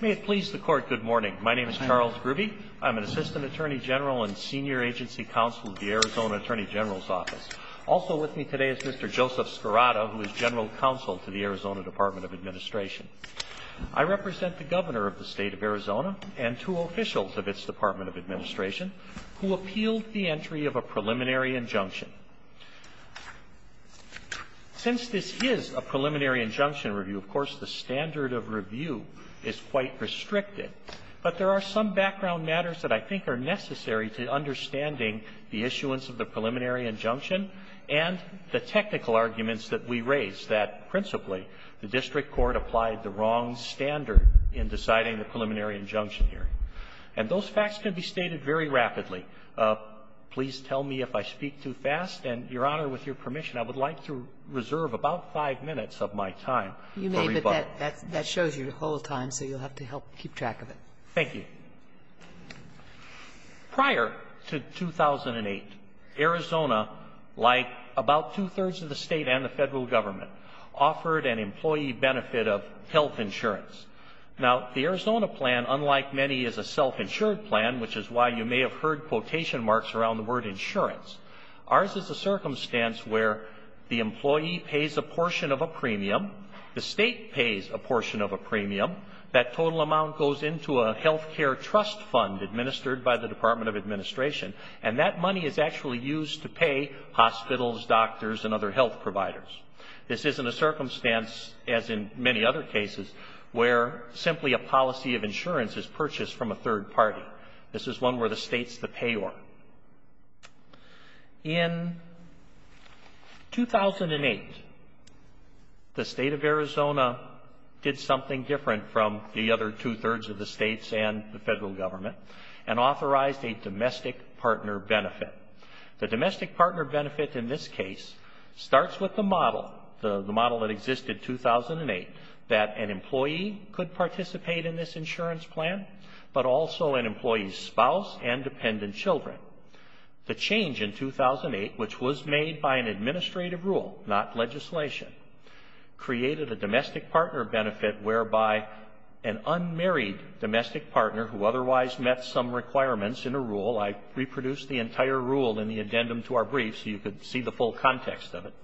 May it please the Court, good morning. My name is Charles Grubbe. I'm an Assistant Attorney General and Senior Agency Counsel at the Arizona Attorney General's Office. Also with me today is Mr. Joseph Scarrotta, who is General Counsel to the Arizona Department of Administration. I represent the Governor of the State of Arizona and two officials of its Department of Administration who appealed the entry of a preliminary injunction. Since this is a preliminary injunction review, of course, the standard of review is quite restricted. But there are some background matters that I think are necessary to understanding the issuance of the preliminary injunction and the technical arguments that we raised, that principally the district court applied the wrong standard in deciding the preliminary injunction here. And those facts can be stated very rapidly. Please tell me if I speak too fast, and, Your Honor, with your permission, I would like to reserve about five minutes of my time for rebuttal. That shows your whole time, so you'll have to help keep track of it. Thank you. Prior to 2008, Arizona, like about two-thirds of the State and the Federal Government, offered an employee benefit of health insurance. Now, the Arizona plan, unlike many, is a self-insured plan, which is why you may have heard quotation marks around the word insurance. Ours is a circumstance where the state pays a portion of a premium. That total amount goes into a health care trust fund administered by the Department of Administration, and that money is actually used to pay hospitals, doctors, and other health providers. This isn't a circumstance, as in many other cases, where simply a policy of insurance is purchased from a third party. This is one where the state's the payor. In 2008, the State of Arizona did something different from the other two-thirds of the States and the Federal Government, and authorized a domestic partner benefit. The domestic partner benefit in this case starts with the model, the model that existed in 2008, that an employee could participate in this insurance plan, but also an employee's spouse and dependent children. The change in 2008, which was made by an administrative rule, not legislation, created a domestic partner benefit whereby an unmarried domestic partner who otherwise met some requirements in a rule, I reproduced the entire rule in the addendum to our brief so you could see the full context of it,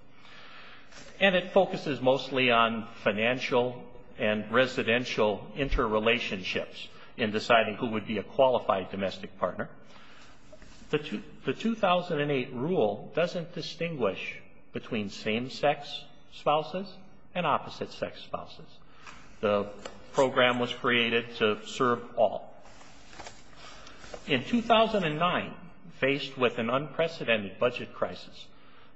and it focuses mostly on financial and qualified domestic partner. The 2008 rule doesn't distinguish between same-sex spouses and opposite-sex spouses. The program was created to serve all. In 2009, faced with an unprecedented budget crisis,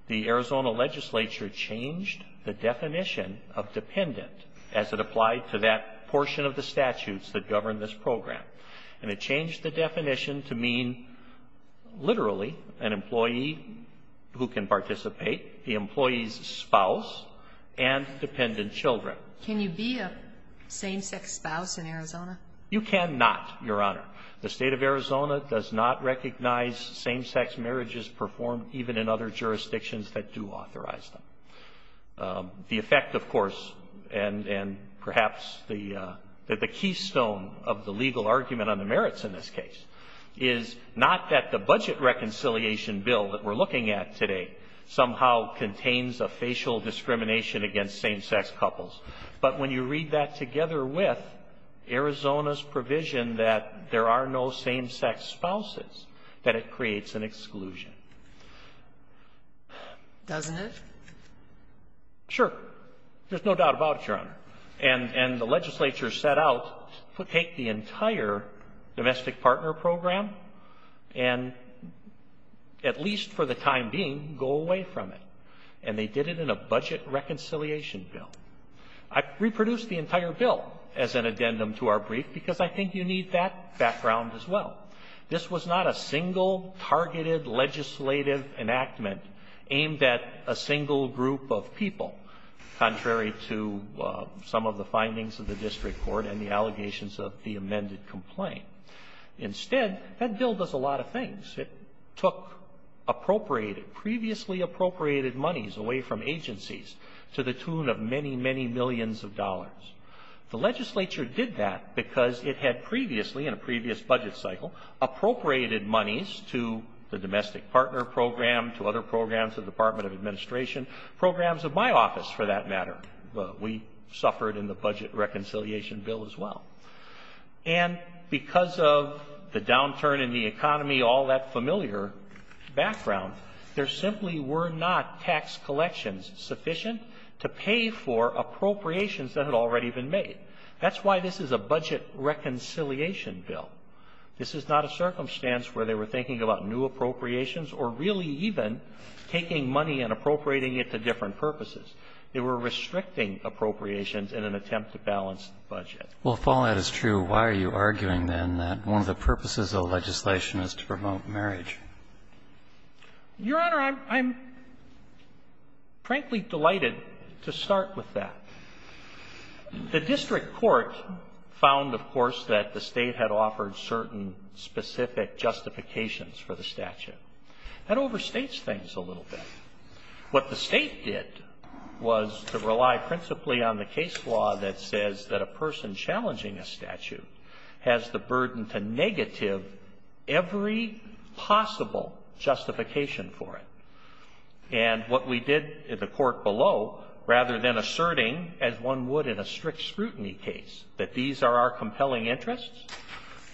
the Arizona legislature changed the definition of dependent as it applied to that portion of the statutes that changed the definition to mean, literally, an employee who can participate, the employee's spouse, and dependent children. Can you be a same-sex spouse in Arizona? You cannot, Your Honor. The State of Arizona does not recognize same-sex marriages performed even in other jurisdictions that do authorize them. The effect, of course, and perhaps the keystone of the legal argument on the merits in this case, is not that the budget reconciliation bill that we're looking at today somehow contains a facial discrimination against same-sex couples, but when you read that together with Arizona's provision that there are no same-sex spouses, that it creates an exclusion. Doesn't it? There's no doubt about it, Your Honor. And the legislature set out to take the entire domestic partner program and, at least for the time being, go away from it. And they did it in a budget reconciliation bill. I reproduced the entire bill as an addendum to our brief because I think you need that background as well. This was not a single targeted legislative enactment aimed at a single group of people, contrary to some of the findings of the district court and the allegations of the amended complaint. Instead, that bill does a lot of things. It took appropriated, previously appropriated monies away from agencies to the tune of many, many millions of dollars. The legislature did that because it had previously, in a previous budget cycle, appropriated monies to the domestic partner program, to other programs, the Department of Administration, programs of my office, for that matter. We suffered in the budget reconciliation bill as well. And because of the downturn in the economy, all that familiar background, there simply were not tax collections sufficient to pay for appropriations that had already been made. That's why this is a budget reconciliation bill. This is not a circumstance where they were thinking about new appropriations or really even taking money and appropriating it to different purposes. They were restricting appropriations in an attempt to balance the budget. Well, if all that is true, why are you arguing, then, that one of the purposes of legislation is to promote marriage? Your Honor, I'm frankly delighted to start with that. The district court found, of course, that the State had offered certain specific justifications for the statute. That overstates things a little bit. What the State did was to rely principally on the case law that says that a person challenging a statute has the burden to negative every possible justification for it. And what we did in the court below, rather than asserting, as one would in a strict scrutiny case, that these are our compelling interests,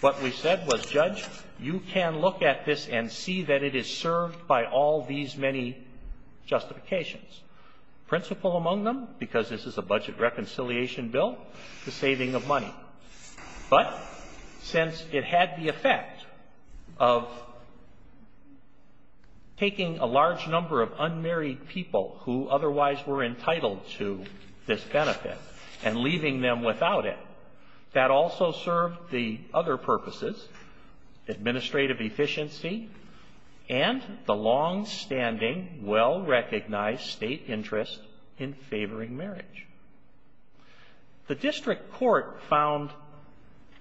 what we said was, Judge, you can look at this and see that it is served by all these many justifications. Principal among them, because this is a budget reconciliation bill, the saving of money. But since it had the effect of taking a large number of unmarried people who otherwise were entitled to this benefit and leaving them without it, that also served the other purposes, administrative efficiency and the longstanding, well-recognized State interest in favoring marriage. The district court found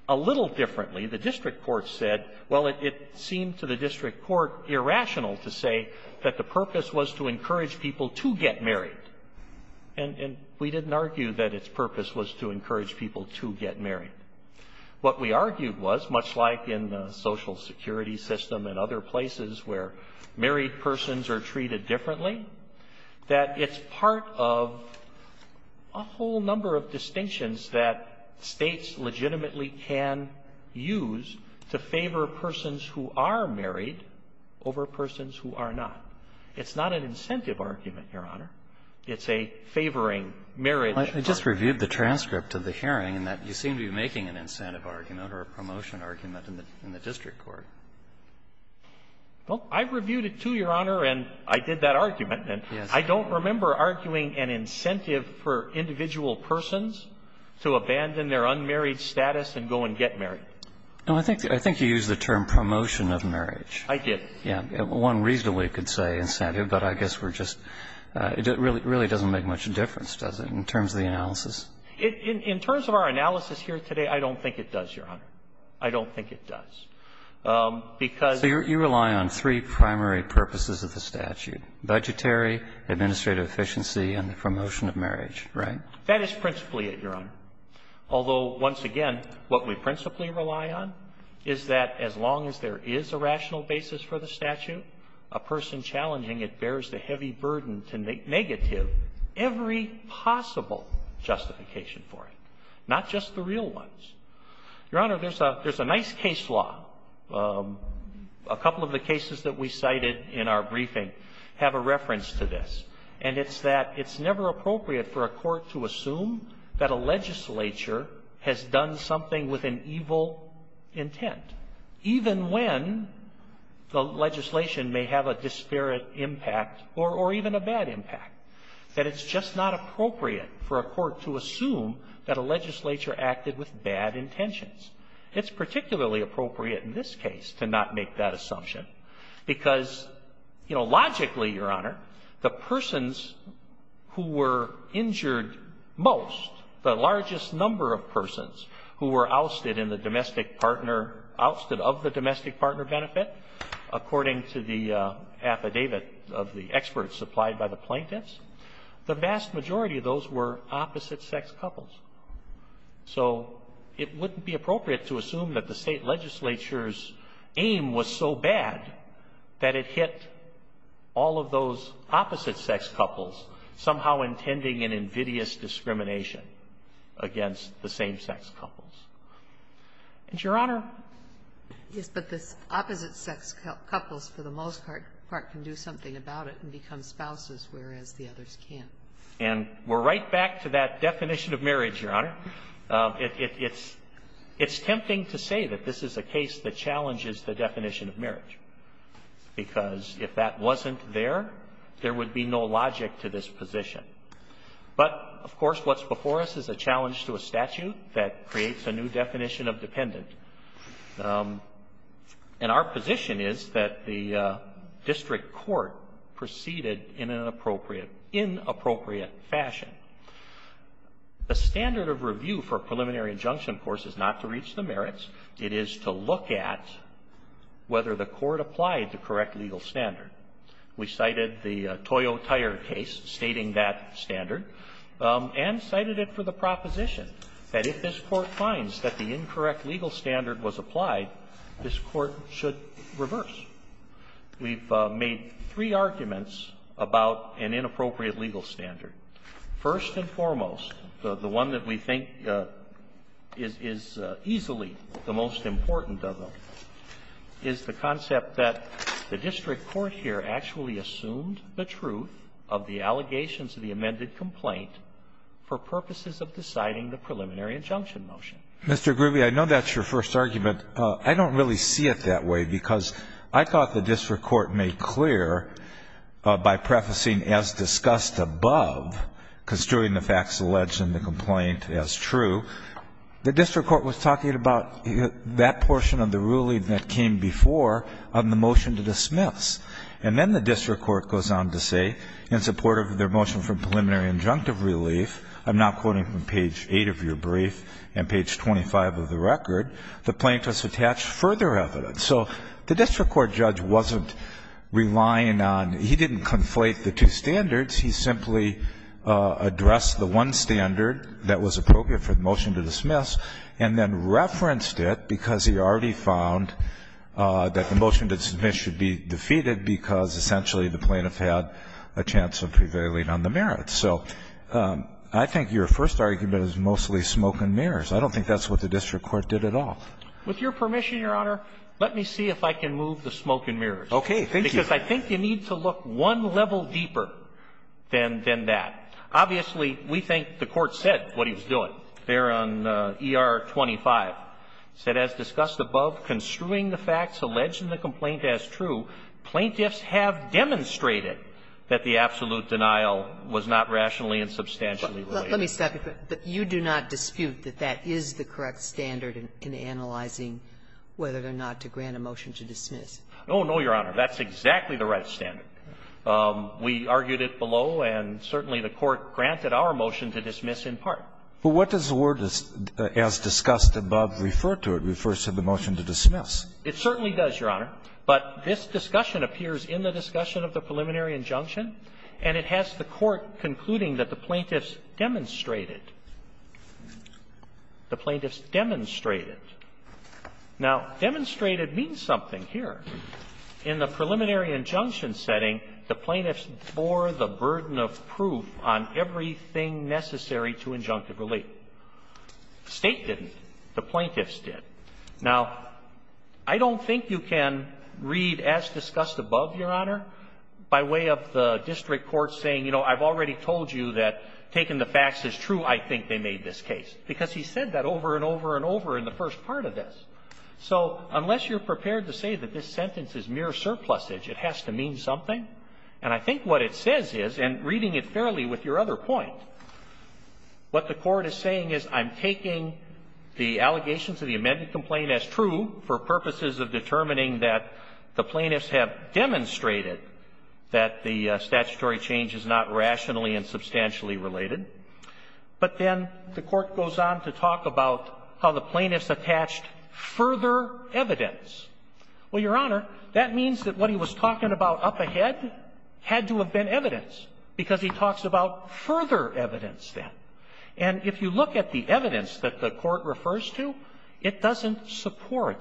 a little differently. The district court said, well, it seemed to the district court irrational to say that the purpose was to encourage people to get married. And we didn't argue that its purpose was to encourage people to get married. What we argued was, much like in the Social Security system and other places where married persons are treated differently, that it's part of a whole number of distinctions that States legitimately can use to favor persons who are married over persons who are not. It's not an incentive argument, Your Honor. It's a favoring marriage. I just reviewed the transcript of the hearing and that you seem to be making an incentive argument or a promotion argument in the district court. Well, I reviewed it, too, Your Honor, and I did that argument. And I don't remember arguing an incentive for individual persons to abandon their unmarried status and go and get married. No, I think you used the term promotion of marriage. I did. Yeah. One reason we could say incentive, but I guess we're just, it really doesn't make much difference, does it, in terms of the analysis? In terms of our analysis here today, I don't think it does, Your Honor. I don't think it does. Because you rely on three primary purposes of the statute, budgetary, administrative efficiency, and the promotion of marriage, right? That is principally it, Your Honor. Although, once again, what we principally rely on is that as long as there is a rational basis for the statute, a person challenging it bears the heavy burden to make negative every possible justification for it, not just the real ones. Your Honor, there's a nice case law. A couple of the cases that we cited in our briefing have a reference to this. And it's that it's never appropriate for a court to assume that a legislature has done something with an evil intent, even when the legislation may have a disparate impact or even a bad impact. That it's just not appropriate for a court to assume that a legislature acted with bad intentions. It's particularly appropriate in this case to not make that assumption. Because, you know, logically, Your Honor, the persons who were injured most, the largest number of persons who were ousted in the domestic partner, ousted of the domestic partner benefit, according to the affidavit of the experts supplied by the plaintiffs, the vast majority of those were opposite-sex couples. So it wouldn't be appropriate to assume that the state legislature's aim was so bad that it hit all of those opposite-sex couples somehow intending an invidious discrimination against the same-sex couples. And, Your Honor? Yes, but the opposite-sex couples, for the most part, can do something about it and become spouses, whereas the others can't. And we're right back to that definition of marriage, Your Honor. It's tempting to say that this is a case that challenges the definition of marriage, because if that wasn't there, there would be no logic to this position. But, of course, what's before us is a challenge to a statute that creates a new definition of dependent. And our position is that the district court proceeded in an inappropriate fashion. The standard of review for a preliminary injunction, of course, is not to reach the merits. It is to look at whether the court applied the correct legal standard. We cited the Toyo Tire case stating that standard, and cited it for the proposition that if this Court finds that the incorrect legal standard was applied, this Court should reverse. We've made three arguments about an inappropriate legal standard. First and foremost, the one that we think is easily the most important of them is the fact that the court here actually assumed the truth of the allegations of the amended complaint for purposes of deciding the preliminary injunction motion. Mr. Groovy, I know that's your first argument. I don't really see it that way, because I thought the district court made clear by prefacing as discussed above, construing the facts alleged in the complaint as true. The district court was talking about that portion of the ruling that came before on the motion to dismiss. And then the district court goes on to say, in support of their motion for preliminary injunctive relief, I'm now quoting from page 8 of your brief and page 25 of the record, the plaintiffs attached further evidence. So the district court judge wasn't relying on ñ he didn't conflate the two standards. He simply addressed the one standard that was appropriate for the motion to dismiss and then referenced it because he already found that the motion to dismiss should be defeated because essentially the plaintiff had a chance of prevailing on the merits. So I think your first argument is mostly smoke and mirrors. I don't think that's what the district court did at all. With your permission, Your Honor, let me see if I can move the smoke and mirrors. Thank you. Because I think you need to look one level deeper than that. Obviously, we think the Court said what he was doing there on ER 25. It said, as discussed above, construing the facts alleged in the complaint as true, plaintiffs have demonstrated that the absolute denial was not rationally and substantially related. Let me stop you there. You do not dispute that that is the correct standard in analyzing whether or not to grant a motion to dismiss? Oh, no, Your Honor. That's exactly the right standard. We argued it below, and certainly the Court granted our motion to dismiss in part. But what does the word, as discussed above, refer to? It refers to the motion to dismiss. It certainly does, Your Honor. But this discussion appears in the discussion of the preliminary injunction, and it has the Court concluding that the plaintiffs demonstrated. The plaintiffs demonstrated. Now, demonstrated means something here. In the preliminary injunction setting, the plaintiffs bore the burden of proof on everything necessary to injunctive relief. State didn't. The plaintiffs did. Now, I don't think you can read, as discussed above, Your Honor, by way of the district court saying, you know, I've already told you that taking the facts as true, I think they made this case. Because he said that over and over and over in the first part of this. So unless you're prepared to say that this sentence is mere surplusage, it has to mean something. And I think what it says is, and reading it fairly with your other point, what the Court is saying is, I'm taking the allegations of the amended complaint as true for purposes of determining that the plaintiffs have demonstrated that the statutory change is not rationally and substantially related. But then the Court goes on to talk about how the plaintiffs attached further evidence. Well, Your Honor, that means that what he was talking about up ahead had to have been evidence, because he talks about further evidence then. And if you look at the evidence that the Court refers to, it doesn't support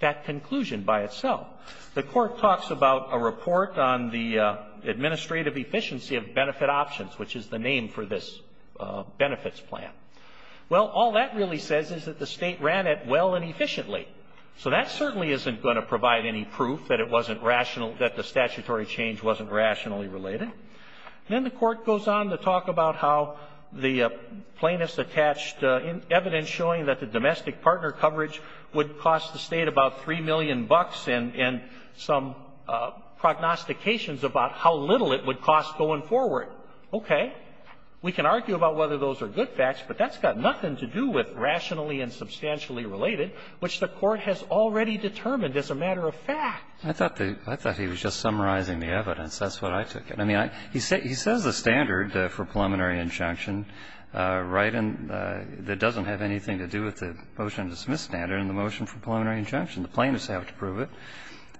that conclusion by itself. The Court talks about a report on the administrative efficiency of benefit options, which is the name for this benefits plan. Well, all that really says is that the State ran it well and efficiently. So that certainly isn't going to provide any proof that it wasn't rational, that the statutory change wasn't rationally related. And then the Court goes on to talk about how the plaintiffs attached evidence showing that the domestic partner coverage would cost the State about 3 million bucks and some prognostications about how little it would cost going forward. Okay. We can argue about whether those are good facts, but that's got nothing to do with rationally and substantially related, which the Court has already determined as a matter of fact. I thought the – I thought he was just summarizing the evidence. That's what I took in. I mean, I – he says the standard for preliminary injunction, right, and that doesn't have anything to do with the motion to dismiss standard and the motion for preliminary injunction. The plaintiffs have to prove it.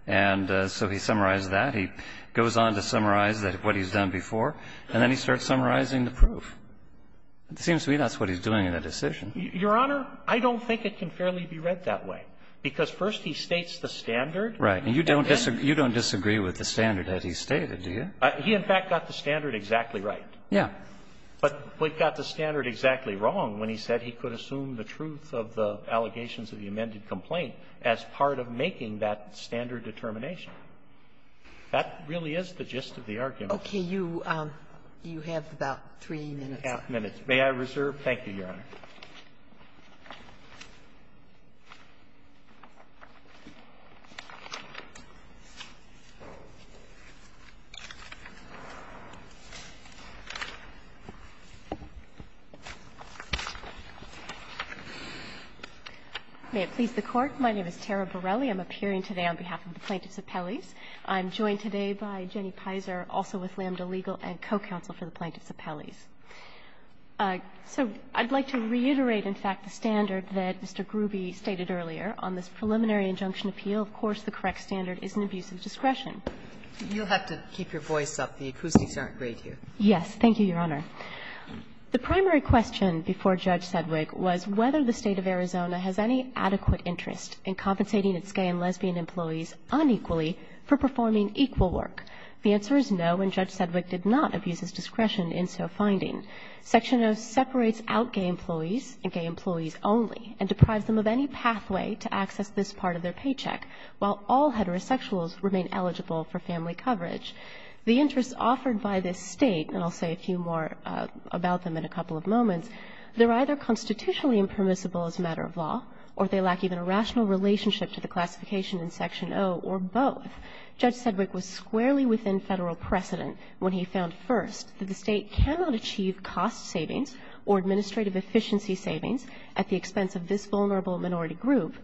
And so he summarized that. He goes on to summarize what he's done before, and then he starts summarizing the proof. It seems to me that's what he's doing in the decision. Your Honor, I don't think it can fairly be read that way, because first he states the standard. Right. And you don't disagree with the standard that he stated, do you? He, in fact, got the standard exactly right. Yeah. But he got the standard exactly wrong when he said he could assume the truth of the allegations of the amended complaint as part of making that standard determination. That really is the gist of the argument. Okay. You have about three minutes left. Three-and-a-half minutes. May I reserve? Thank you, Your Honor. May it please the Court. My name is Tara Borelli. I'm appearing today on behalf of the Plaintiffs' Appellees. I'm joined today by Jenny Pizer, also with Lambda Legal and co-counsel for the Plaintiffs' Appellees. So I'd like to reiterate, in fact, the standard that Mr. Gruby stated earlier on this preliminary injunction appeal. Of course, the correct standard is an abuse of discretion. You'll have to keep your voice up. The acoustics aren't great here. Yes. Thank you, Your Honor. The primary question before Judge Sedgwick was whether the State of Arizona has any employees unequally for performing equal work. The answer is no, and Judge Sedgwick did not abuse his discretion in so finding. Section O separates out gay employees and gay employees only, and deprives them of any pathway to access this part of their paycheck, while all heterosexuals remain eligible for family coverage. The interests offered by this State, and I'll say a few more about them in a couple of moments, they're either constitutionally impermissible as a matter of law, or they Section O or both. Judge Sedgwick was squarely within Federal precedent when he found, first, that the State cannot achieve cost savings or administrative efficiency savings at the expense of this vulnerable minority group.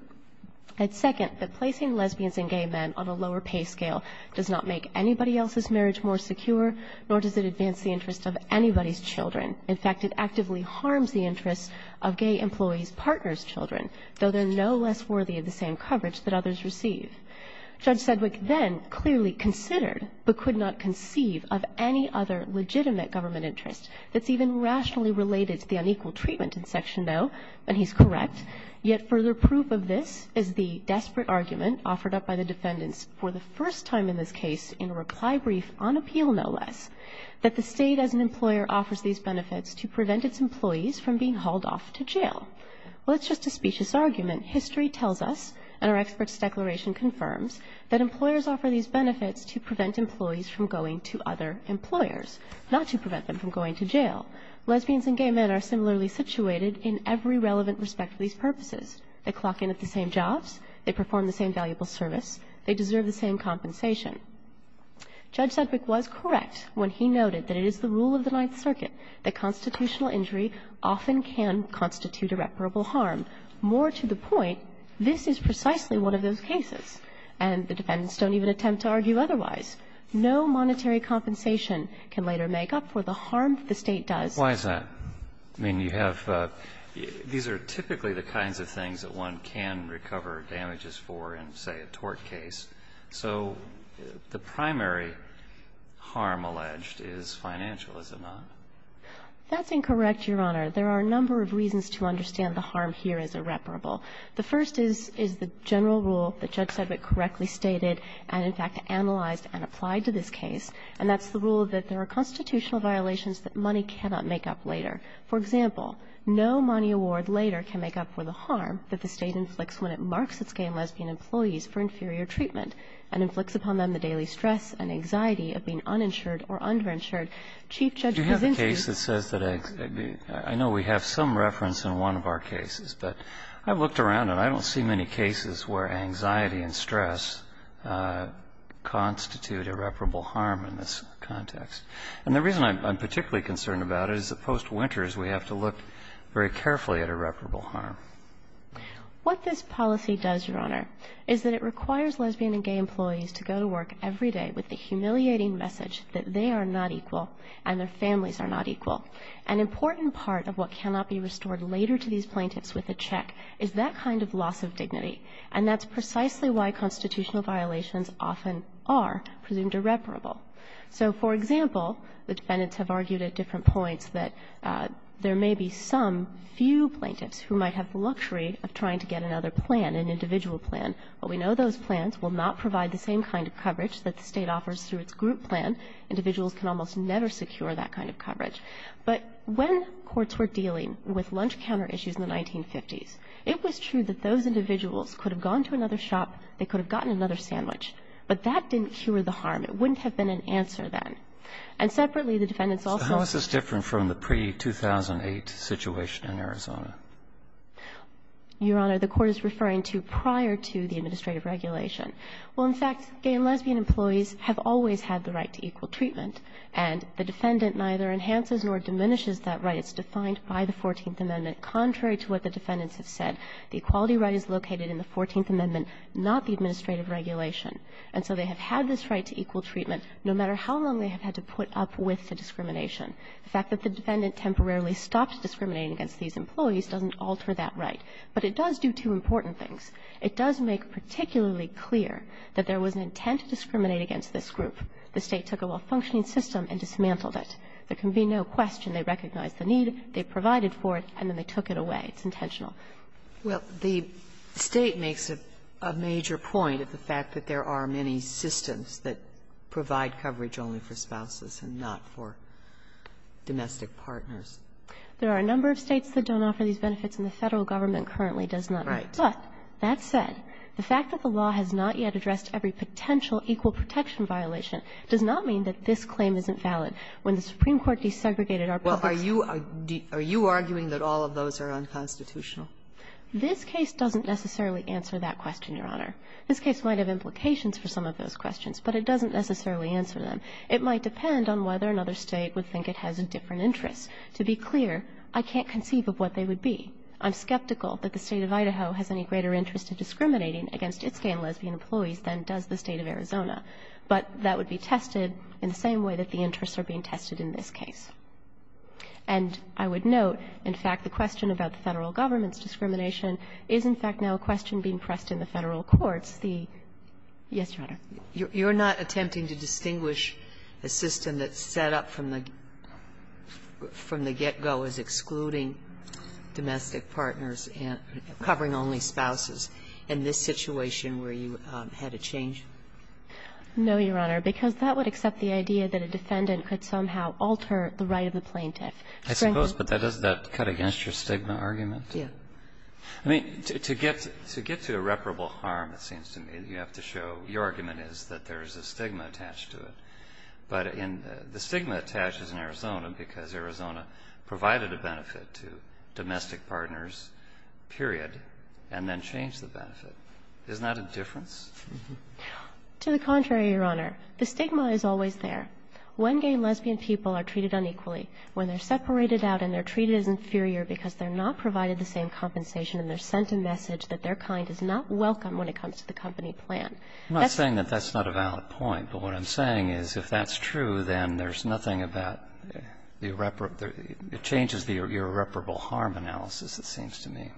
And, second, that placing lesbians and gay men on a lower pay scale does not make anybody else's marriage more secure, nor does it advance the interests of anybody's children. In fact, it actively harms the interests of gay employees' partners' children, though they're no less worthy of the same coverage that others receive. Judge Sedgwick then clearly considered, but could not conceive of any other legitimate government interest that's even rationally related to the unequal treatment in Section O, and he's correct. Yet further proof of this is the desperate argument offered up by the defendants for the first time in this case, in a reply brief on appeal, no less, that the State as an employer offers these benefits to prevent its employees from being hauled off to jail. Well, it's just a specious argument. History tells us, and our experts' declaration confirms, that employers offer these benefits to prevent employees from going to other employers, not to prevent them from going to jail. Lesbians and gay men are similarly situated in every relevant respect for these purposes. They clock in at the same jobs. They perform the same valuable service. They deserve the same compensation. Judge Sedgwick was correct when he noted that it is the rule of the Ninth Circuit that constitutional injury often can constitute irreparable harm. More to the point, this is precisely one of those cases, and the defendants don't even attempt to argue otherwise. No monetary compensation can later make up for the harm that the State does. Why is that? I mean, you have the – these are typically the kinds of things that one can recover damages for in, say, a tort case. So the primary harm alleged is financial, is it not? That's incorrect, Your Honor. There are a number of reasons to understand the harm here as irreparable. The first is the general rule that Judge Sedgwick correctly stated and, in fact, analyzed and applied to this case, and that's the rule that there are constitutional violations that money cannot make up later. For example, no money award later can make up for the harm that the State inflicts when it marks its gay and lesbian employees for inferior treatment and inflicts upon them the daily stress and anxiety of being uninsured or underinsured. Chief Judge Kuczynski – Do you have a case that says that – I know we have some reference in one of our cases, but I've looked around and I don't see many cases where anxiety and stress constitute irreparable harm in this context. And the reason I'm particularly concerned about it is that post-Winters we have to look very carefully at irreparable harm. What this policy does, Your Honor, is that it requires lesbian and gay employees to go to work every day with the humiliating message that they are not equal and their families are not equal. An important part of what cannot be restored later to these plaintiffs with a check is that kind of loss of dignity, and that's precisely why constitutional violations often are presumed irreparable. So, for example, the defendants have argued at different points that there may be some few plaintiffs who might have the luxury of trying to get another plan, an individual plan, but we know those plans will not provide the same kind of coverage that the State offers through its group plan. Individuals can almost never secure that kind of coverage. But when courts were dealing with lunch counter issues in the 1950s, it was true that those individuals could have gone to another shop, they could have gotten another sandwich, but that didn't cure the harm. It wouldn't have been an answer then. And separately, the defendants also – So how is this different from the pre-2008 situation in Arizona? Your Honor, the Court is referring to prior to the administrative regulation. Well, in fact, gay and lesbian employees have always had the right to equal treatment, and the defendant neither enhances nor diminishes that right. It's defined by the 14th Amendment. Contrary to what the defendants have said, the equality right is located in the 14th Amendment, not the administrative regulation. And so they have had this right to equal treatment no matter how long they have had to put up with the discrimination. The fact that the defendant temporarily stopped discriminating against these employees doesn't alter that right. But it does do two important things. It does make particularly clear that there was an intent to discriminate against this group. The State took a well-functioning system and dismantled it. There can be no question they recognized the need, they provided for it, and then they took it away. It's intentional. Well, the State makes a major point of the fact that there are many systems that do not offer these benefits to domestic partners. There are a number of States that don't offer these benefits, and the Federal Government currently does not. Right. But that said, the fact that the law has not yet addressed every potential equal protection violation does not mean that this claim isn't valid. When the Supreme Court desegregated our public's ---- Well, are you arguing that all of those are unconstitutional? This case doesn't necessarily answer that question, Your Honor. This case might have implications for some of those questions, but it doesn't necessarily answer them. It might depend on whether another State would think it has a different interest. To be clear, I can't conceive of what they would be. I'm skeptical that the State of Idaho has any greater interest in discriminating against its gay and lesbian employees than does the State of Arizona, but that would be tested in the same way that the interests are being tested in this case. And I would note, in fact, the question about the Federal Government's discrimination is, in fact, now a question being pressed in the Federal courts, the ---- Yes, Your Honor. You're not attempting to distinguish a system that's set up from the get-go as excluding domestic partners and covering only spouses in this situation where you had a change? No, Your Honor, because that would accept the idea that a defendant could somehow alter the right of the plaintiff. I suppose, but doesn't that cut against your stigma argument? Yes. I mean, to get to irreparable harm, it seems to me, you have to show your argument is that there is a stigma attached to it. But the stigma attaches in Arizona because Arizona provided a benefit to domestic partners, period, and then changed the benefit. Isn't that a difference? To the contrary, Your Honor. The stigma is always there. When gay and lesbian people are treated unequally, when they're separated out and they're treated as inferior because they're not provided the same compensation and they're sent a message that their kind is not welcome when it comes to the company plan. I'm not saying that that's not a valid point, but what I'm saying is if that's true, then there's nothing about the irreparable – it changes the irreparable harm analysis, it seems to me.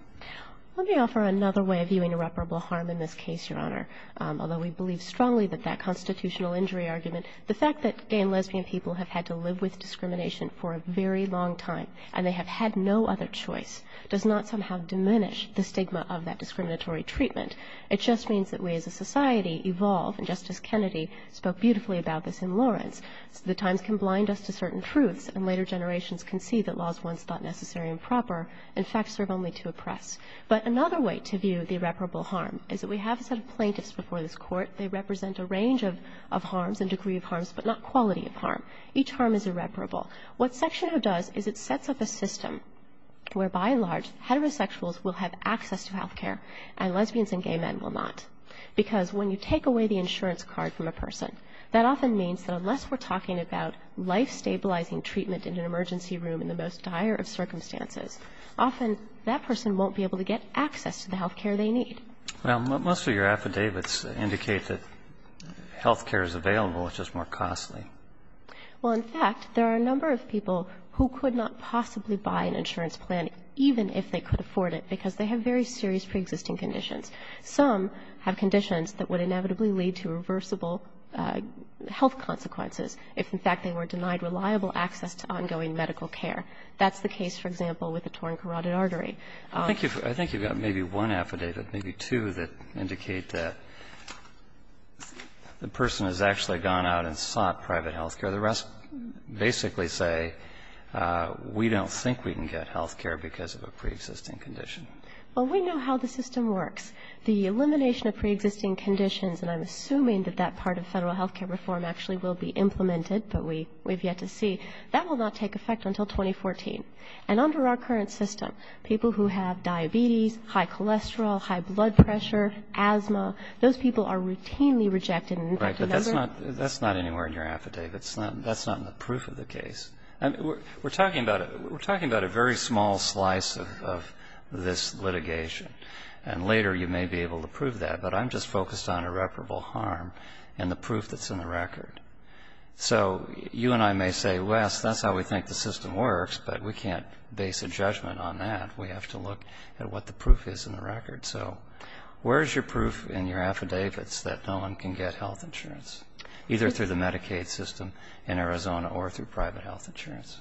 Let me offer another way of viewing irreparable harm in this case, Your Honor. Although we believe strongly that that constitutional injury argument, the fact that gay and lesbian people have had to live with discrimination for a very long time and they have had no other choice does not somehow diminish the stigma of that discriminatory treatment. It just means that we as a society evolve, and Justice Kennedy spoke beautifully about this in Lawrence. The times can blind us to certain truths, and later generations can see that laws once thought necessary and proper, in fact, serve only to oppress. But another way to view the irreparable harm is that we have a set of plaintiffs before this Court. They represent a range of harms, a degree of harms, but not quality of harm. Each harm is irreparable. What Section O does is it sets up a system where, by and large, heterosexuals will have access to health care, and lesbians and gay men will not. Because when you take away the insurance card from a person, that often means that unless we're talking about life-stabilizing treatment in an emergency room in the most dire of circumstances, often that person won't be able to get access to the health care they need. Well, most of your affidavits indicate that health care is available, it's just more costly. Well, in fact, there are a number of people who could not possibly buy an insurance plan, even if they could afford it, because they have very serious preexisting conditions. Some have conditions that would inevitably lead to reversible health consequences if, in fact, they were denied reliable access to ongoing medical care. That's the case, for example, with a torn carotid artery. I think you've got maybe one affidavit, maybe two, that indicate that the person has actually gone out and sought private health care. The rest basically say we don't think we can get health care because of a preexisting condition. Well, we know how the system works. The elimination of preexisting conditions, and I'm assuming that that part of Federal health care reform actually will be implemented, but we've yet to see, that will not take effect until 2014. And under our current system, people who have diabetes, high cholesterol, high blood pressure, asthma, those people are routinely rejected. Right. But that's not anywhere in your affidavits. That's not in the proof of the case. We're talking about a very small slice of this litigation. And later you may be able to prove that, but I'm just focused on irreparable harm and the proof that's in the record. So you and I may say, well, that's how we think the system works, but we can't base a judgment on that. We have to look at what the proof is in the record. So where is your proof in your affidavits that no one can get health insurance, either through the Medicaid system in Arizona or through private health insurance?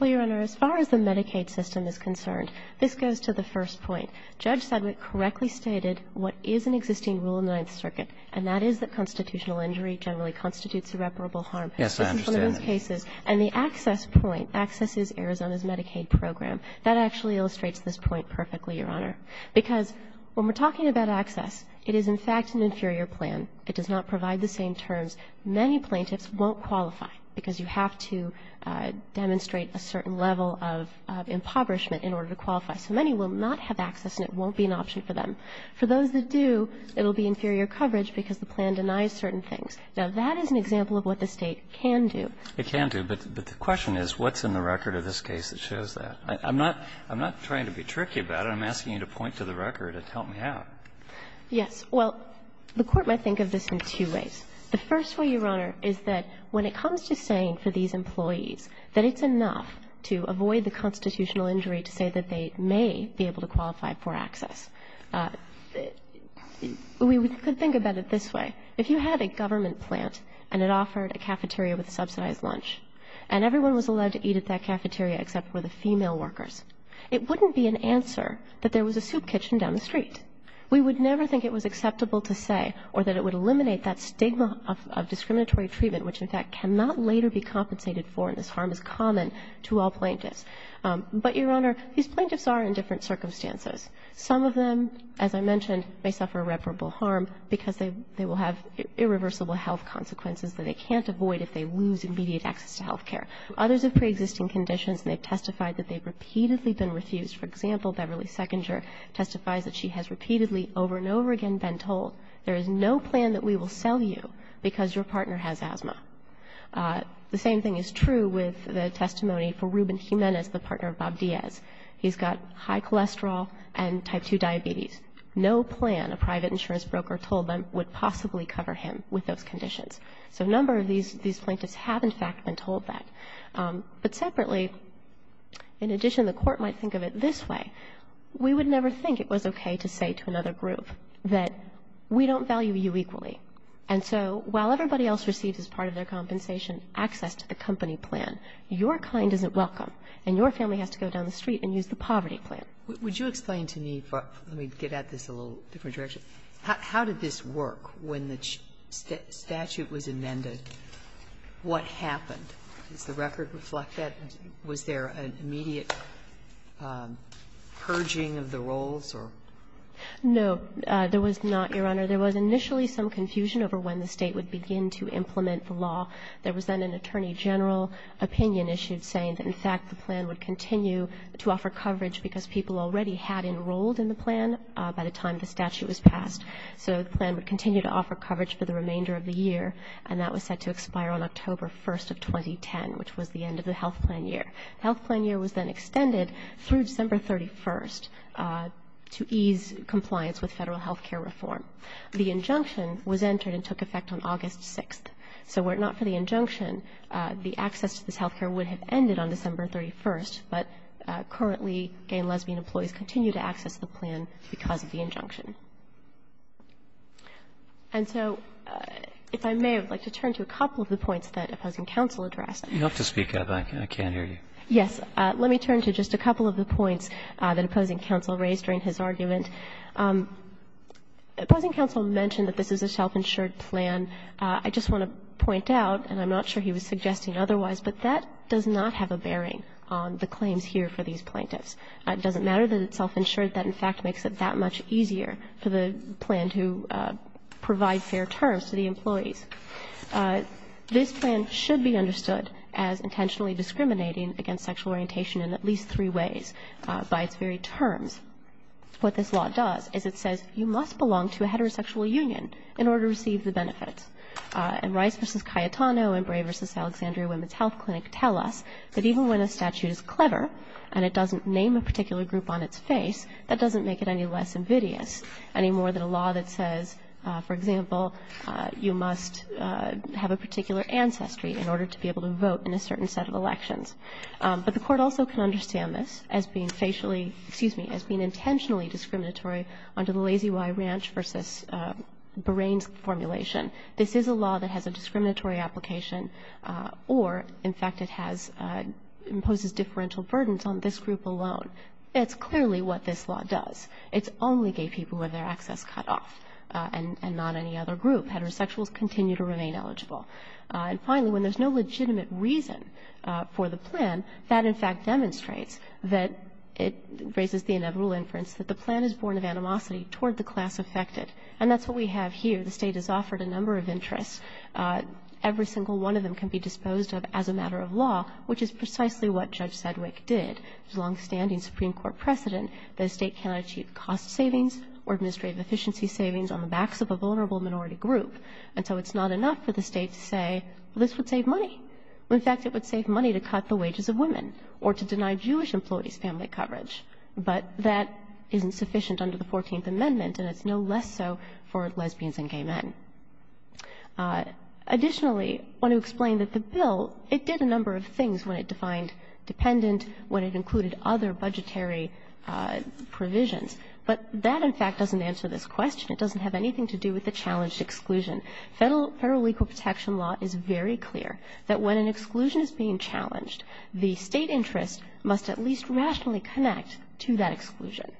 Well, Your Honor, as far as the Medicaid system is concerned, this goes to the first point. Judge Sedgwick correctly stated what is an existing rule in the Ninth Circuit, and that is that constitutional injury generally constitutes irreparable harm. Yes, I understand that. And the access point, access is Arizona's Medicaid program. That actually illustrates this point perfectly, Your Honor. Because when we're talking about access, it is in fact an inferior plan. It does not provide the same terms. Many plaintiffs won't qualify because you have to demonstrate a certain level of impoverishment in order to qualify. So many will not have access and it won't be an option for them. For those that do, it will be inferior coverage because the plan denies certain things. Now, that is an example of what the State can do. It can do, but the question is what's in the record of this case that shows that? I'm not trying to be tricky about it. I'm asking you to point to the record and help me out. Yes. Well, the Court might think of this in two ways. The first way, Your Honor, is that when it comes to saying for these employees that it's enough to avoid the constitutional injury to say that they may be able to qualify for access. We could think about it this way. If you had a government plant and it offered a cafeteria with a subsidized lunch and everyone was allowed to eat at that cafeteria except for the female workers, it wouldn't be an answer that there was a soup kitchen down the street. We would never think it was acceptable to say or that it would eliminate that stigma of discriminatory treatment, which, in fact, cannot later be compensated for and this harm is common to all plaintiffs. But, Your Honor, these plaintiffs are in different circumstances. Some of them, as I mentioned, may suffer irreparable harm because they will have irreversible health consequences that they can't avoid if they lose immediate access to health care. Others have preexisting conditions and they've testified that they've repeatedly been refused. For example, Beverly Sechinger testifies that she has repeatedly, over and over again, been told, there is no plan that we will sell you because your partner has asthma. The same thing is true with the testimony for Ruben Jimenez, the partner of Bob Diaz. He's got high cholesterol and type 2 diabetes. No plan, a private insurance broker told them, would possibly cover him with those conditions. So a number of these plaintiffs have, in fact, been told that. But separately, in addition, the Court might think of it this way. We would never think it was okay to say to another group that we don't value you equally. And so while everybody else receives as part of their compensation access to the company plan, your kind isn't welcome and your family has to go down the street and use the poverty plan. Sotomayor, would you explain to me, let me get at this a little different direction, how did this work when the statute was amended? What happened? Does the record reflect that? Was there an immediate purging of the roles or? No, there was not, Your Honor. There was initially some confusion over when the State would begin to implement the law. There was then an attorney general opinion issued saying that, in fact, the plan would continue to offer coverage because people already had enrolled in the plan by the time the statute was passed. So the plan would continue to offer coverage for the remainder of the year, and that was set to expire on October 1st of 2010, which was the end of the health plan year. The health plan year was then extended through December 31st to ease compliance with Federal health care reform. The injunction was entered and took effect on August 6th. So were it not for the injunction, the access to this health care would have ended on December 31st, but currently, gay and lesbian employees continue to access the plan because of the injunction. And so if I may, I would like to turn to a couple of the points that opposing counsel addressed. You have to speak up. I can't hear you. Yes. Let me turn to just a couple of the points that opposing counsel raised during his argument. Opposing counsel mentioned that this is a self-insured plan. I just want to point out, and I'm not sure he was suggesting otherwise, but that does not have a bearing on the claims here for these plaintiffs. It doesn't matter that it's self-insured. That, in fact, makes it that much easier. It's much easier for the plan to provide fair terms to the employees. This plan should be understood as intentionally discriminating against sexual orientation in at least three ways by its very terms. What this law does is it says you must belong to a heterosexual union in order to receive the benefits. And Rice v. Cayetano and Bray v. Alexandria Women's Health Clinic tell us that even when a statute is clever and it doesn't name a particular group on its face, that doesn't make it any less invidious, any more than a law that says, for example, you must have a particular ancestry in order to be able to vote in a certain set of elections. But the Court also can understand this as being facially, excuse me, as being intentionally discriminatory under the Lazy Y Ranch v. Barain formulation. This is a law that has a discriminatory application or, in fact, it has imposes differential burdens on this group alone. It's clearly what this law does. It's only gay people who have their access cut off and not any other group. Heterosexuals continue to remain eligible. And finally, when there's no legitimate reason for the plan, that, in fact, demonstrates that it raises the inevitable inference that the plan is born of animosity toward the class affected. And that's what we have here. The State has offered a number of interests. Every single one of them can be disposed of as a matter of law, which is precisely what Judge Sedgwick did. There's longstanding Supreme Court precedent that a State cannot achieve cost savings or administrative efficiency savings on the backs of a vulnerable minority group. And so it's not enough for the State to say, well, this would save money. In fact, it would save money to cut the wages of women or to deny Jewish employees family coverage. But that isn't sufficient under the Fourteenth Amendment, and it's no less so for lesbians and gay men. Additionally, I want to explain that the bill, it did a number of things when it defined dependent, when it included other budgetary provisions. But that, in fact, doesn't answer this question. It doesn't have anything to do with the challenged exclusion. Federal legal protection law is very clear that when an exclusion is being challenged, the State interest must at least rationally connect to that exclusion.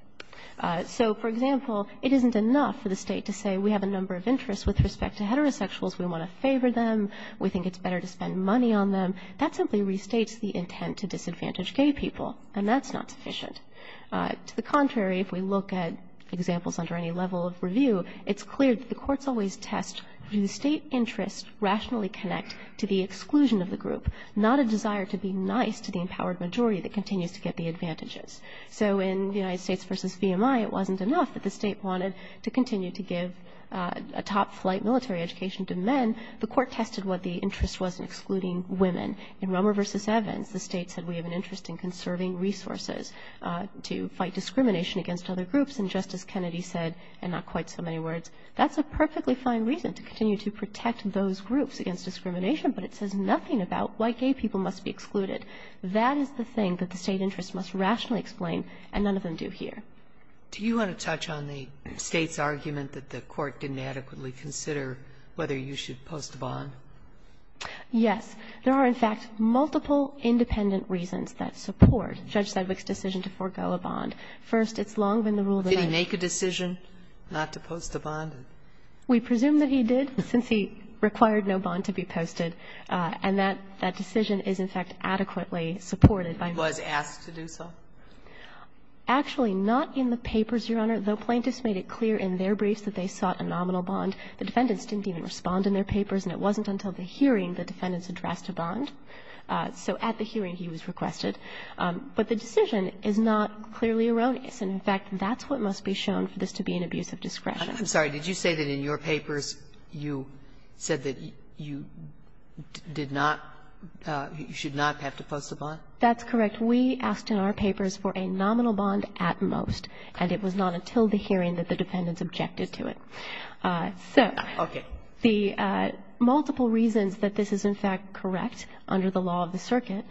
So, for example, it isn't enough for the State to say we have a number of interests with respect to heterosexuals. We want to favor them. We think it's better to spend money on them. That simply restates the intent to disadvantage gay people, and that's not sufficient. To the contrary, if we look at examples under any level of review, it's clear that the courts always test do the State interests rationally connect to the exclusion of the group, not a desire to be nice to the empowered majority that continues to get the advantages. So in the United States v. BMI, it wasn't enough that the State wanted to continue to give a top-flight military education to men. The Court tested what the interest was in excluding women. In Romer v. Evans, the State said we have an interest in conserving resources to fight discrimination against other groups, and Justice Kennedy said, in not quite so many words, that's a perfectly fine reason to continue to protect those groups against discrimination, but it says nothing about why gay people must be excluded. That is the thing that the State interest must rationally explain, and none of them do here. Sotomayor, do you want to touch on the State's argument that the Court didn't adequately consider whether you should post a bond? Yes. There are, in fact, multiple independent reasons that support Judge Sedgwick's decision to forego a bond. First, it's long been the rule of the night. Did he make a decision not to post a bond? We presume that he did, since he required no bond to be posted, and that decision is, in fact, adequately supported by law. He was asked to do so? Actually, not in the papers, Your Honor, though plaintiffs made it clear in their The defendants didn't even respond in their papers, and it wasn't until the hearing the defendants addressed a bond. So at the hearing, he was requested. But the decision is not clearly erroneous, and, in fact, that's what must be shown for this to be an abuse of discretion. I'm sorry. Did you say that in your papers you said that you did not, you should not have to post a bond? That's correct. We asked in our papers for a nominal bond at most, and it was not until the hearing that the defendants objected to it. So the multiple reasons that this is, in fact, correct under the law of the circuit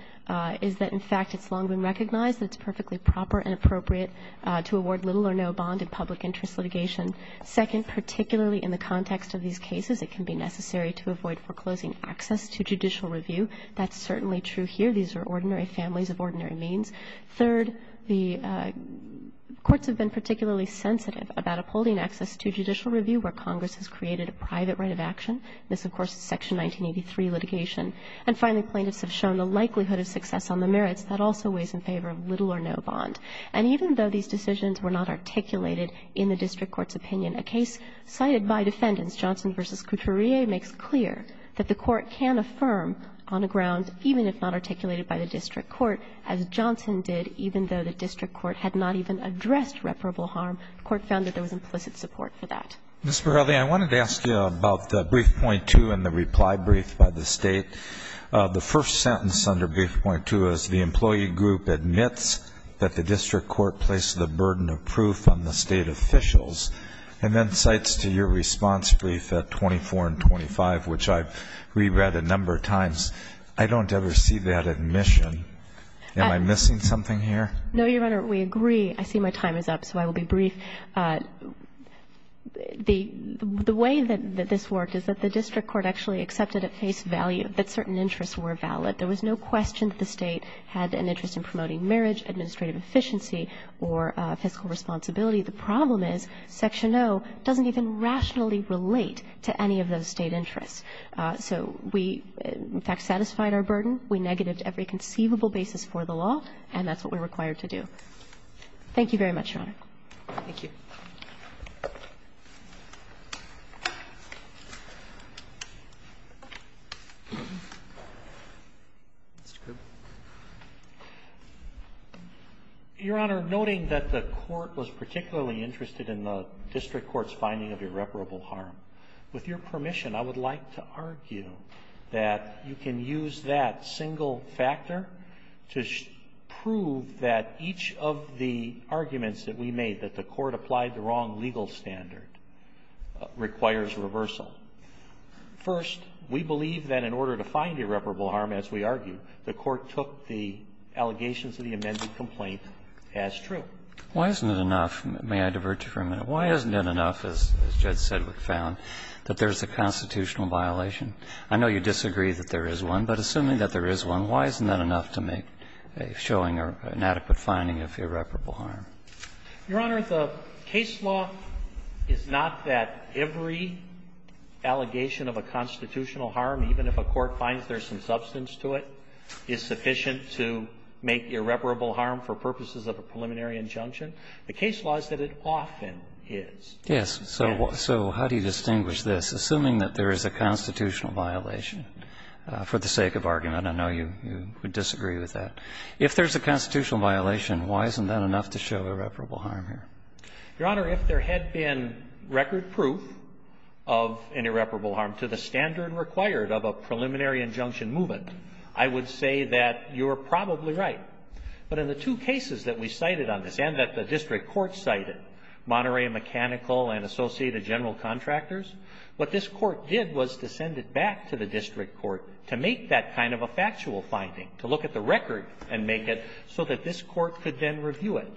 is that, in fact, it's long been recognized that it's perfectly proper and appropriate to award little or no bond in public interest litigation. Second, particularly in the context of these cases, it can be necessary to avoid foreclosing access to judicial review. That's certainly true here. These are ordinary families of ordinary means. Third, the courts have been particularly sensitive about upholding access to judicial review where Congress has created a private right of action. This, of course, is Section 1983 litigation. And finally, plaintiffs have shown the likelihood of success on the merits. That also weighs in favor of little or no bond. And even though these decisions were not articulated in the district court's opinion, a case cited by defendants, Johnson v. Couturier, makes clear that the court can affirm on a ground, even if not articulated by the district court, as Johnson did, even though the district court had not even addressed reparable harm, the court found that there was implicit support for that. Mr. Verrilli, I wanted to ask you about the brief point two and the reply brief by the State. The first sentence under brief point two is the employee group admits that the district court placed the burden of proof on the State officials, and then cites to your response brief at 24 and 25, which I've reread a number of times, I don't ever see that admission. Am I missing something here? No, Your Honor, we agree. I see my time is up, so I will be brief. The way that this worked is that the district court actually accepted at face value that certain interests were valid. There was no question that the State had an interest in promoting marriage, administrative efficiency or fiscal responsibility. The problem is Section O doesn't even rationally relate to any of those State interests. So we, in fact, satisfied our burden. We negated every conceivable basis for the law, and that's what we're required to do. Thank you very much, Your Honor. Thank you. Mr. Cooper. Your Honor, noting that the court was particularly interested in the district court's finding of irreparable harm, with your permission, I would like to argue that you can use that single factor to prove that each of the arguments that we made, that the court applied the wrong legal standard, requires reversal. First, we believe that in order to find irreparable harm, as we argued, the court took the allegations of the amended complaint as true. Why isn't it enough? May I divert you for a minute? Why isn't it enough, as Judge Sedgwick found, that there's a constitutional violation? I know you disagree that there is one, but assuming that there is one, why isn't that enough to make a showing or an adequate finding of irreparable harm? Your Honor, the case law is not that every allegation of a constitutional harm, even if a court finds there's some substance to it, is sufficient to make irreparable harm for purposes of a preliminary injunction. The case law is that it often is. Yes. So how do you distinguish this? Assuming that there is a constitutional violation, for the sake of argument, I know you would disagree with that. If there's a constitutional violation, why isn't that enough to show irreparable harm here? Your Honor, if there had been record proof of an irreparable harm to the standard required of a preliminary injunction movement, I would say that you are probably right. But in the two cases that we cited on this, and that the district court cited, Monterey Mechanical and Associated General Contractors, what this court did was to send it back to the district court to make that kind of a factual finding, to look at the record and make it so that this court could then review it.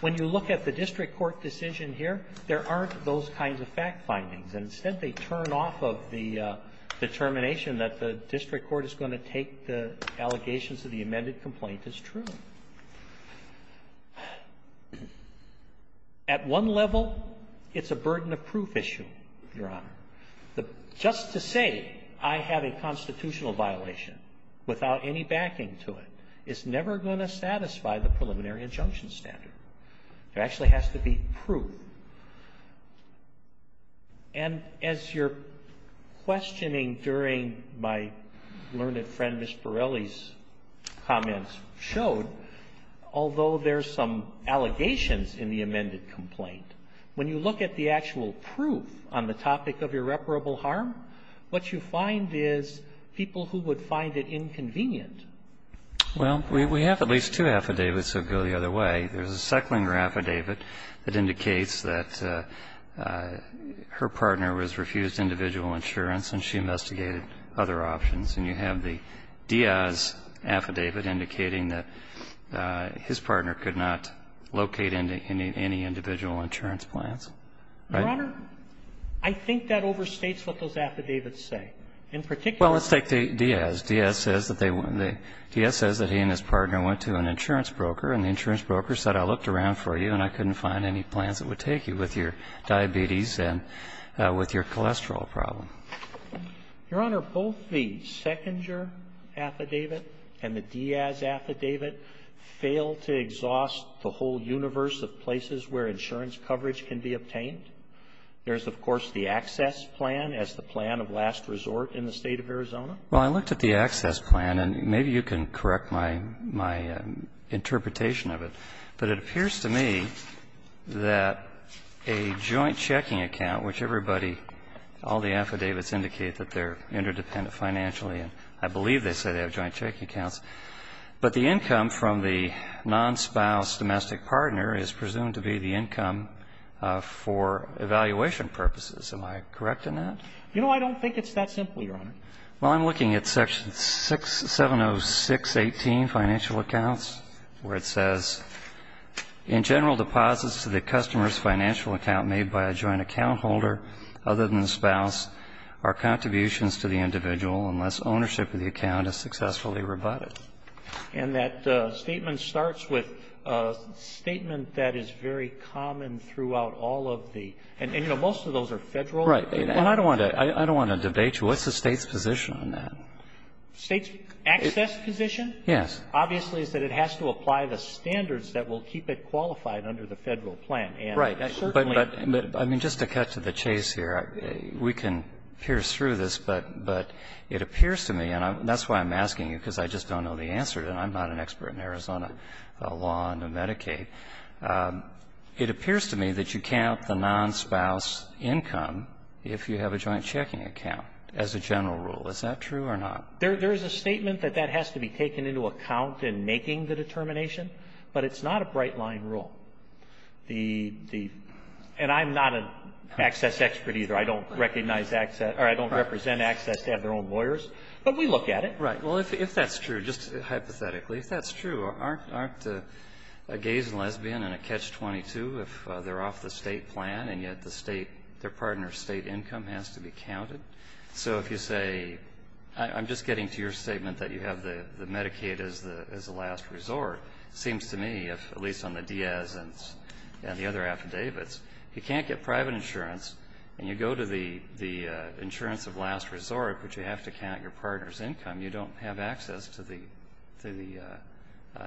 When you look at the district court decision here, there aren't those kinds of fact findings, and instead they turn off of the determination that the district court is going to take the allegations of the amended complaint as true. At one level, it's a burden of proof issue, Your Honor. Just to say I have a constitutional violation without any backing to it is never going to satisfy the preliminary injunction standard. There actually has to be proof. And as your questioning during my learned friend Ms. Borelli's comments showed, although there's some allegations in the amended complaint, when you look at the actual proof on the topic of irreparable harm, what you find is people who would find it inconvenient. Well, we have at least two affidavits that go the other way. There's a Zecklinger affidavit that indicates that her partner was refused individual insurance and she investigated other options. And you have the Diaz affidavit indicating that his partner could not locate any individual insurance plans. Right? Your Honor, I think that overstates what those affidavits say. In particular they say that he and his partner went to an insurance broker and the insurance broker said I looked around for you and I couldn't find any plans that would take you with your diabetes and with your cholesterol problem. Your Honor, both the Zecklinger affidavit and the Diaz affidavit fail to exhaust the whole universe of places where insurance coverage can be obtained. There's, of course, the access plan as the plan of last resort in the State of Arizona. Well, I looked at the access plan, and maybe you can correct my interpretation of it, but it appears to me that a joint checking account, which everybody, all the affidavits indicate that they're interdependent financially, and I believe they say they have joint checking accounts, but the income from the non-spouse domestic partner is presumed to be the income for evaluation purposes. Am I correct in that? You know, I don't think it's that simple, Your Honor. Well, I'm looking at section 706.18, financial accounts, where it says, in general deposits to the customer's financial account made by a joint account holder other than the spouse are contributions to the individual unless ownership of the account is successfully rebutted. And that statement starts with a statement that is very common throughout all of the and, you know, most of those are federal. Right. And I don't want to debate you. What's the State's position on that? State's access position? Yes. Obviously, is that it has to apply the standards that will keep it qualified under the Federal plan. Right. But, I mean, just to cut to the chase here, we can pierce through this, but it appears to me, and that's why I'm asking you, because I just don't know the answer to it, and I'm not an expert in Arizona law and Medicaid. It appears to me that you count the non-spouse income if you have a joint checking account as a general rule. Is that true or not? There is a statement that that has to be taken into account in making the determination, but it's not a bright-line rule. The – and I'm not an access expert, either. I don't recognize access – or I don't represent access to have their own lawyers, but we look at it. Right. Well, if that's true, just hypothetically, if that's true, aren't gays and lesbians in a catch-22 if they're off the State plan and yet the State – their partner's State income has to be counted? So if you say – I'm just getting to your statement that you have the Medicaid as the last resort. It seems to me, at least on the Diaz and the other affidavits, you can't get private insurance, and you go to the insurance of last resort, but you have to count your partner's income. You don't have access to the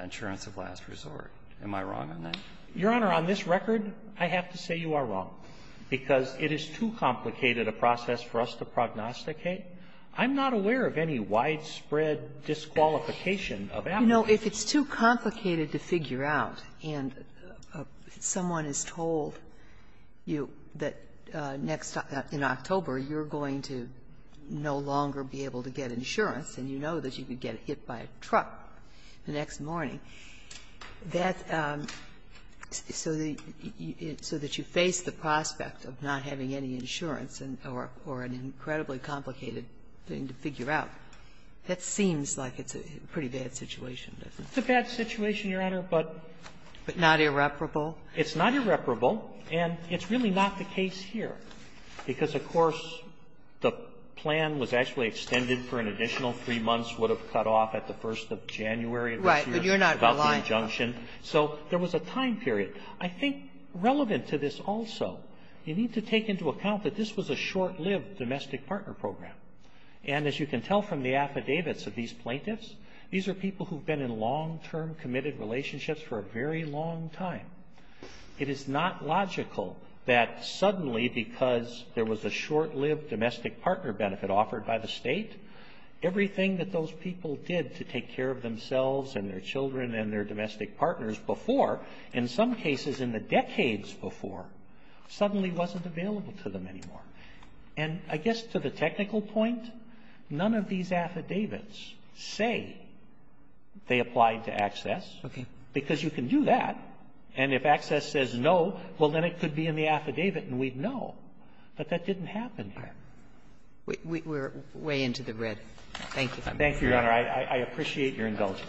insurance of last resort. Am I wrong on that? Your Honor, on this record, I have to say you are wrong, because it is too complicated a process for us to prognosticate. I'm not aware of any widespread disqualification of applicants. You know, if it's too complicated to figure out and someone has told you that next October you're going to no longer be able to get insurance and you know that you could get hit by a truck the next morning, that's so that you face the prospect of not having any insurance or an incredibly complicated thing to figure out. That seems like it's a pretty bad situation, doesn't it? It's a bad situation, Your Honor, but not irreparable. It's not irreparable, and it's really not the case here. Because, of course, the plan was actually extended for an additional three months. It would have cut off at the first of January. It was about the injunction. Right. But you're not aligned. So there was a time period. I think relevant to this also, you need to take into account that this was a short-lived domestic partner program. And as you can tell from the affidavits of these plaintiffs, these are people who have been in long-term committed relationships for a very long time. It is not logical that suddenly, because there was a short-lived domestic partner benefit offered by the state, everything that those people did to take care of themselves and their children and their domestic partners before, in some cases in the decades before, suddenly wasn't available to them anymore. And I guess to the technical point, none of these affidavits say they applied to Access. Okay. Because you can do that. And if Access says no, well, then it could be in the affidavit and we'd know. But that didn't happen. Right. We're way into the red. Thank you. Thank you, Your Honor. I appreciate your indulgence.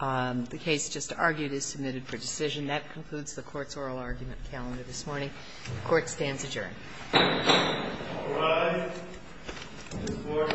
The case just argued is submitted for decision. That concludes the Court's oral argument calendar this morning. The Court stands adjourned. All rise. This Court is adjourned.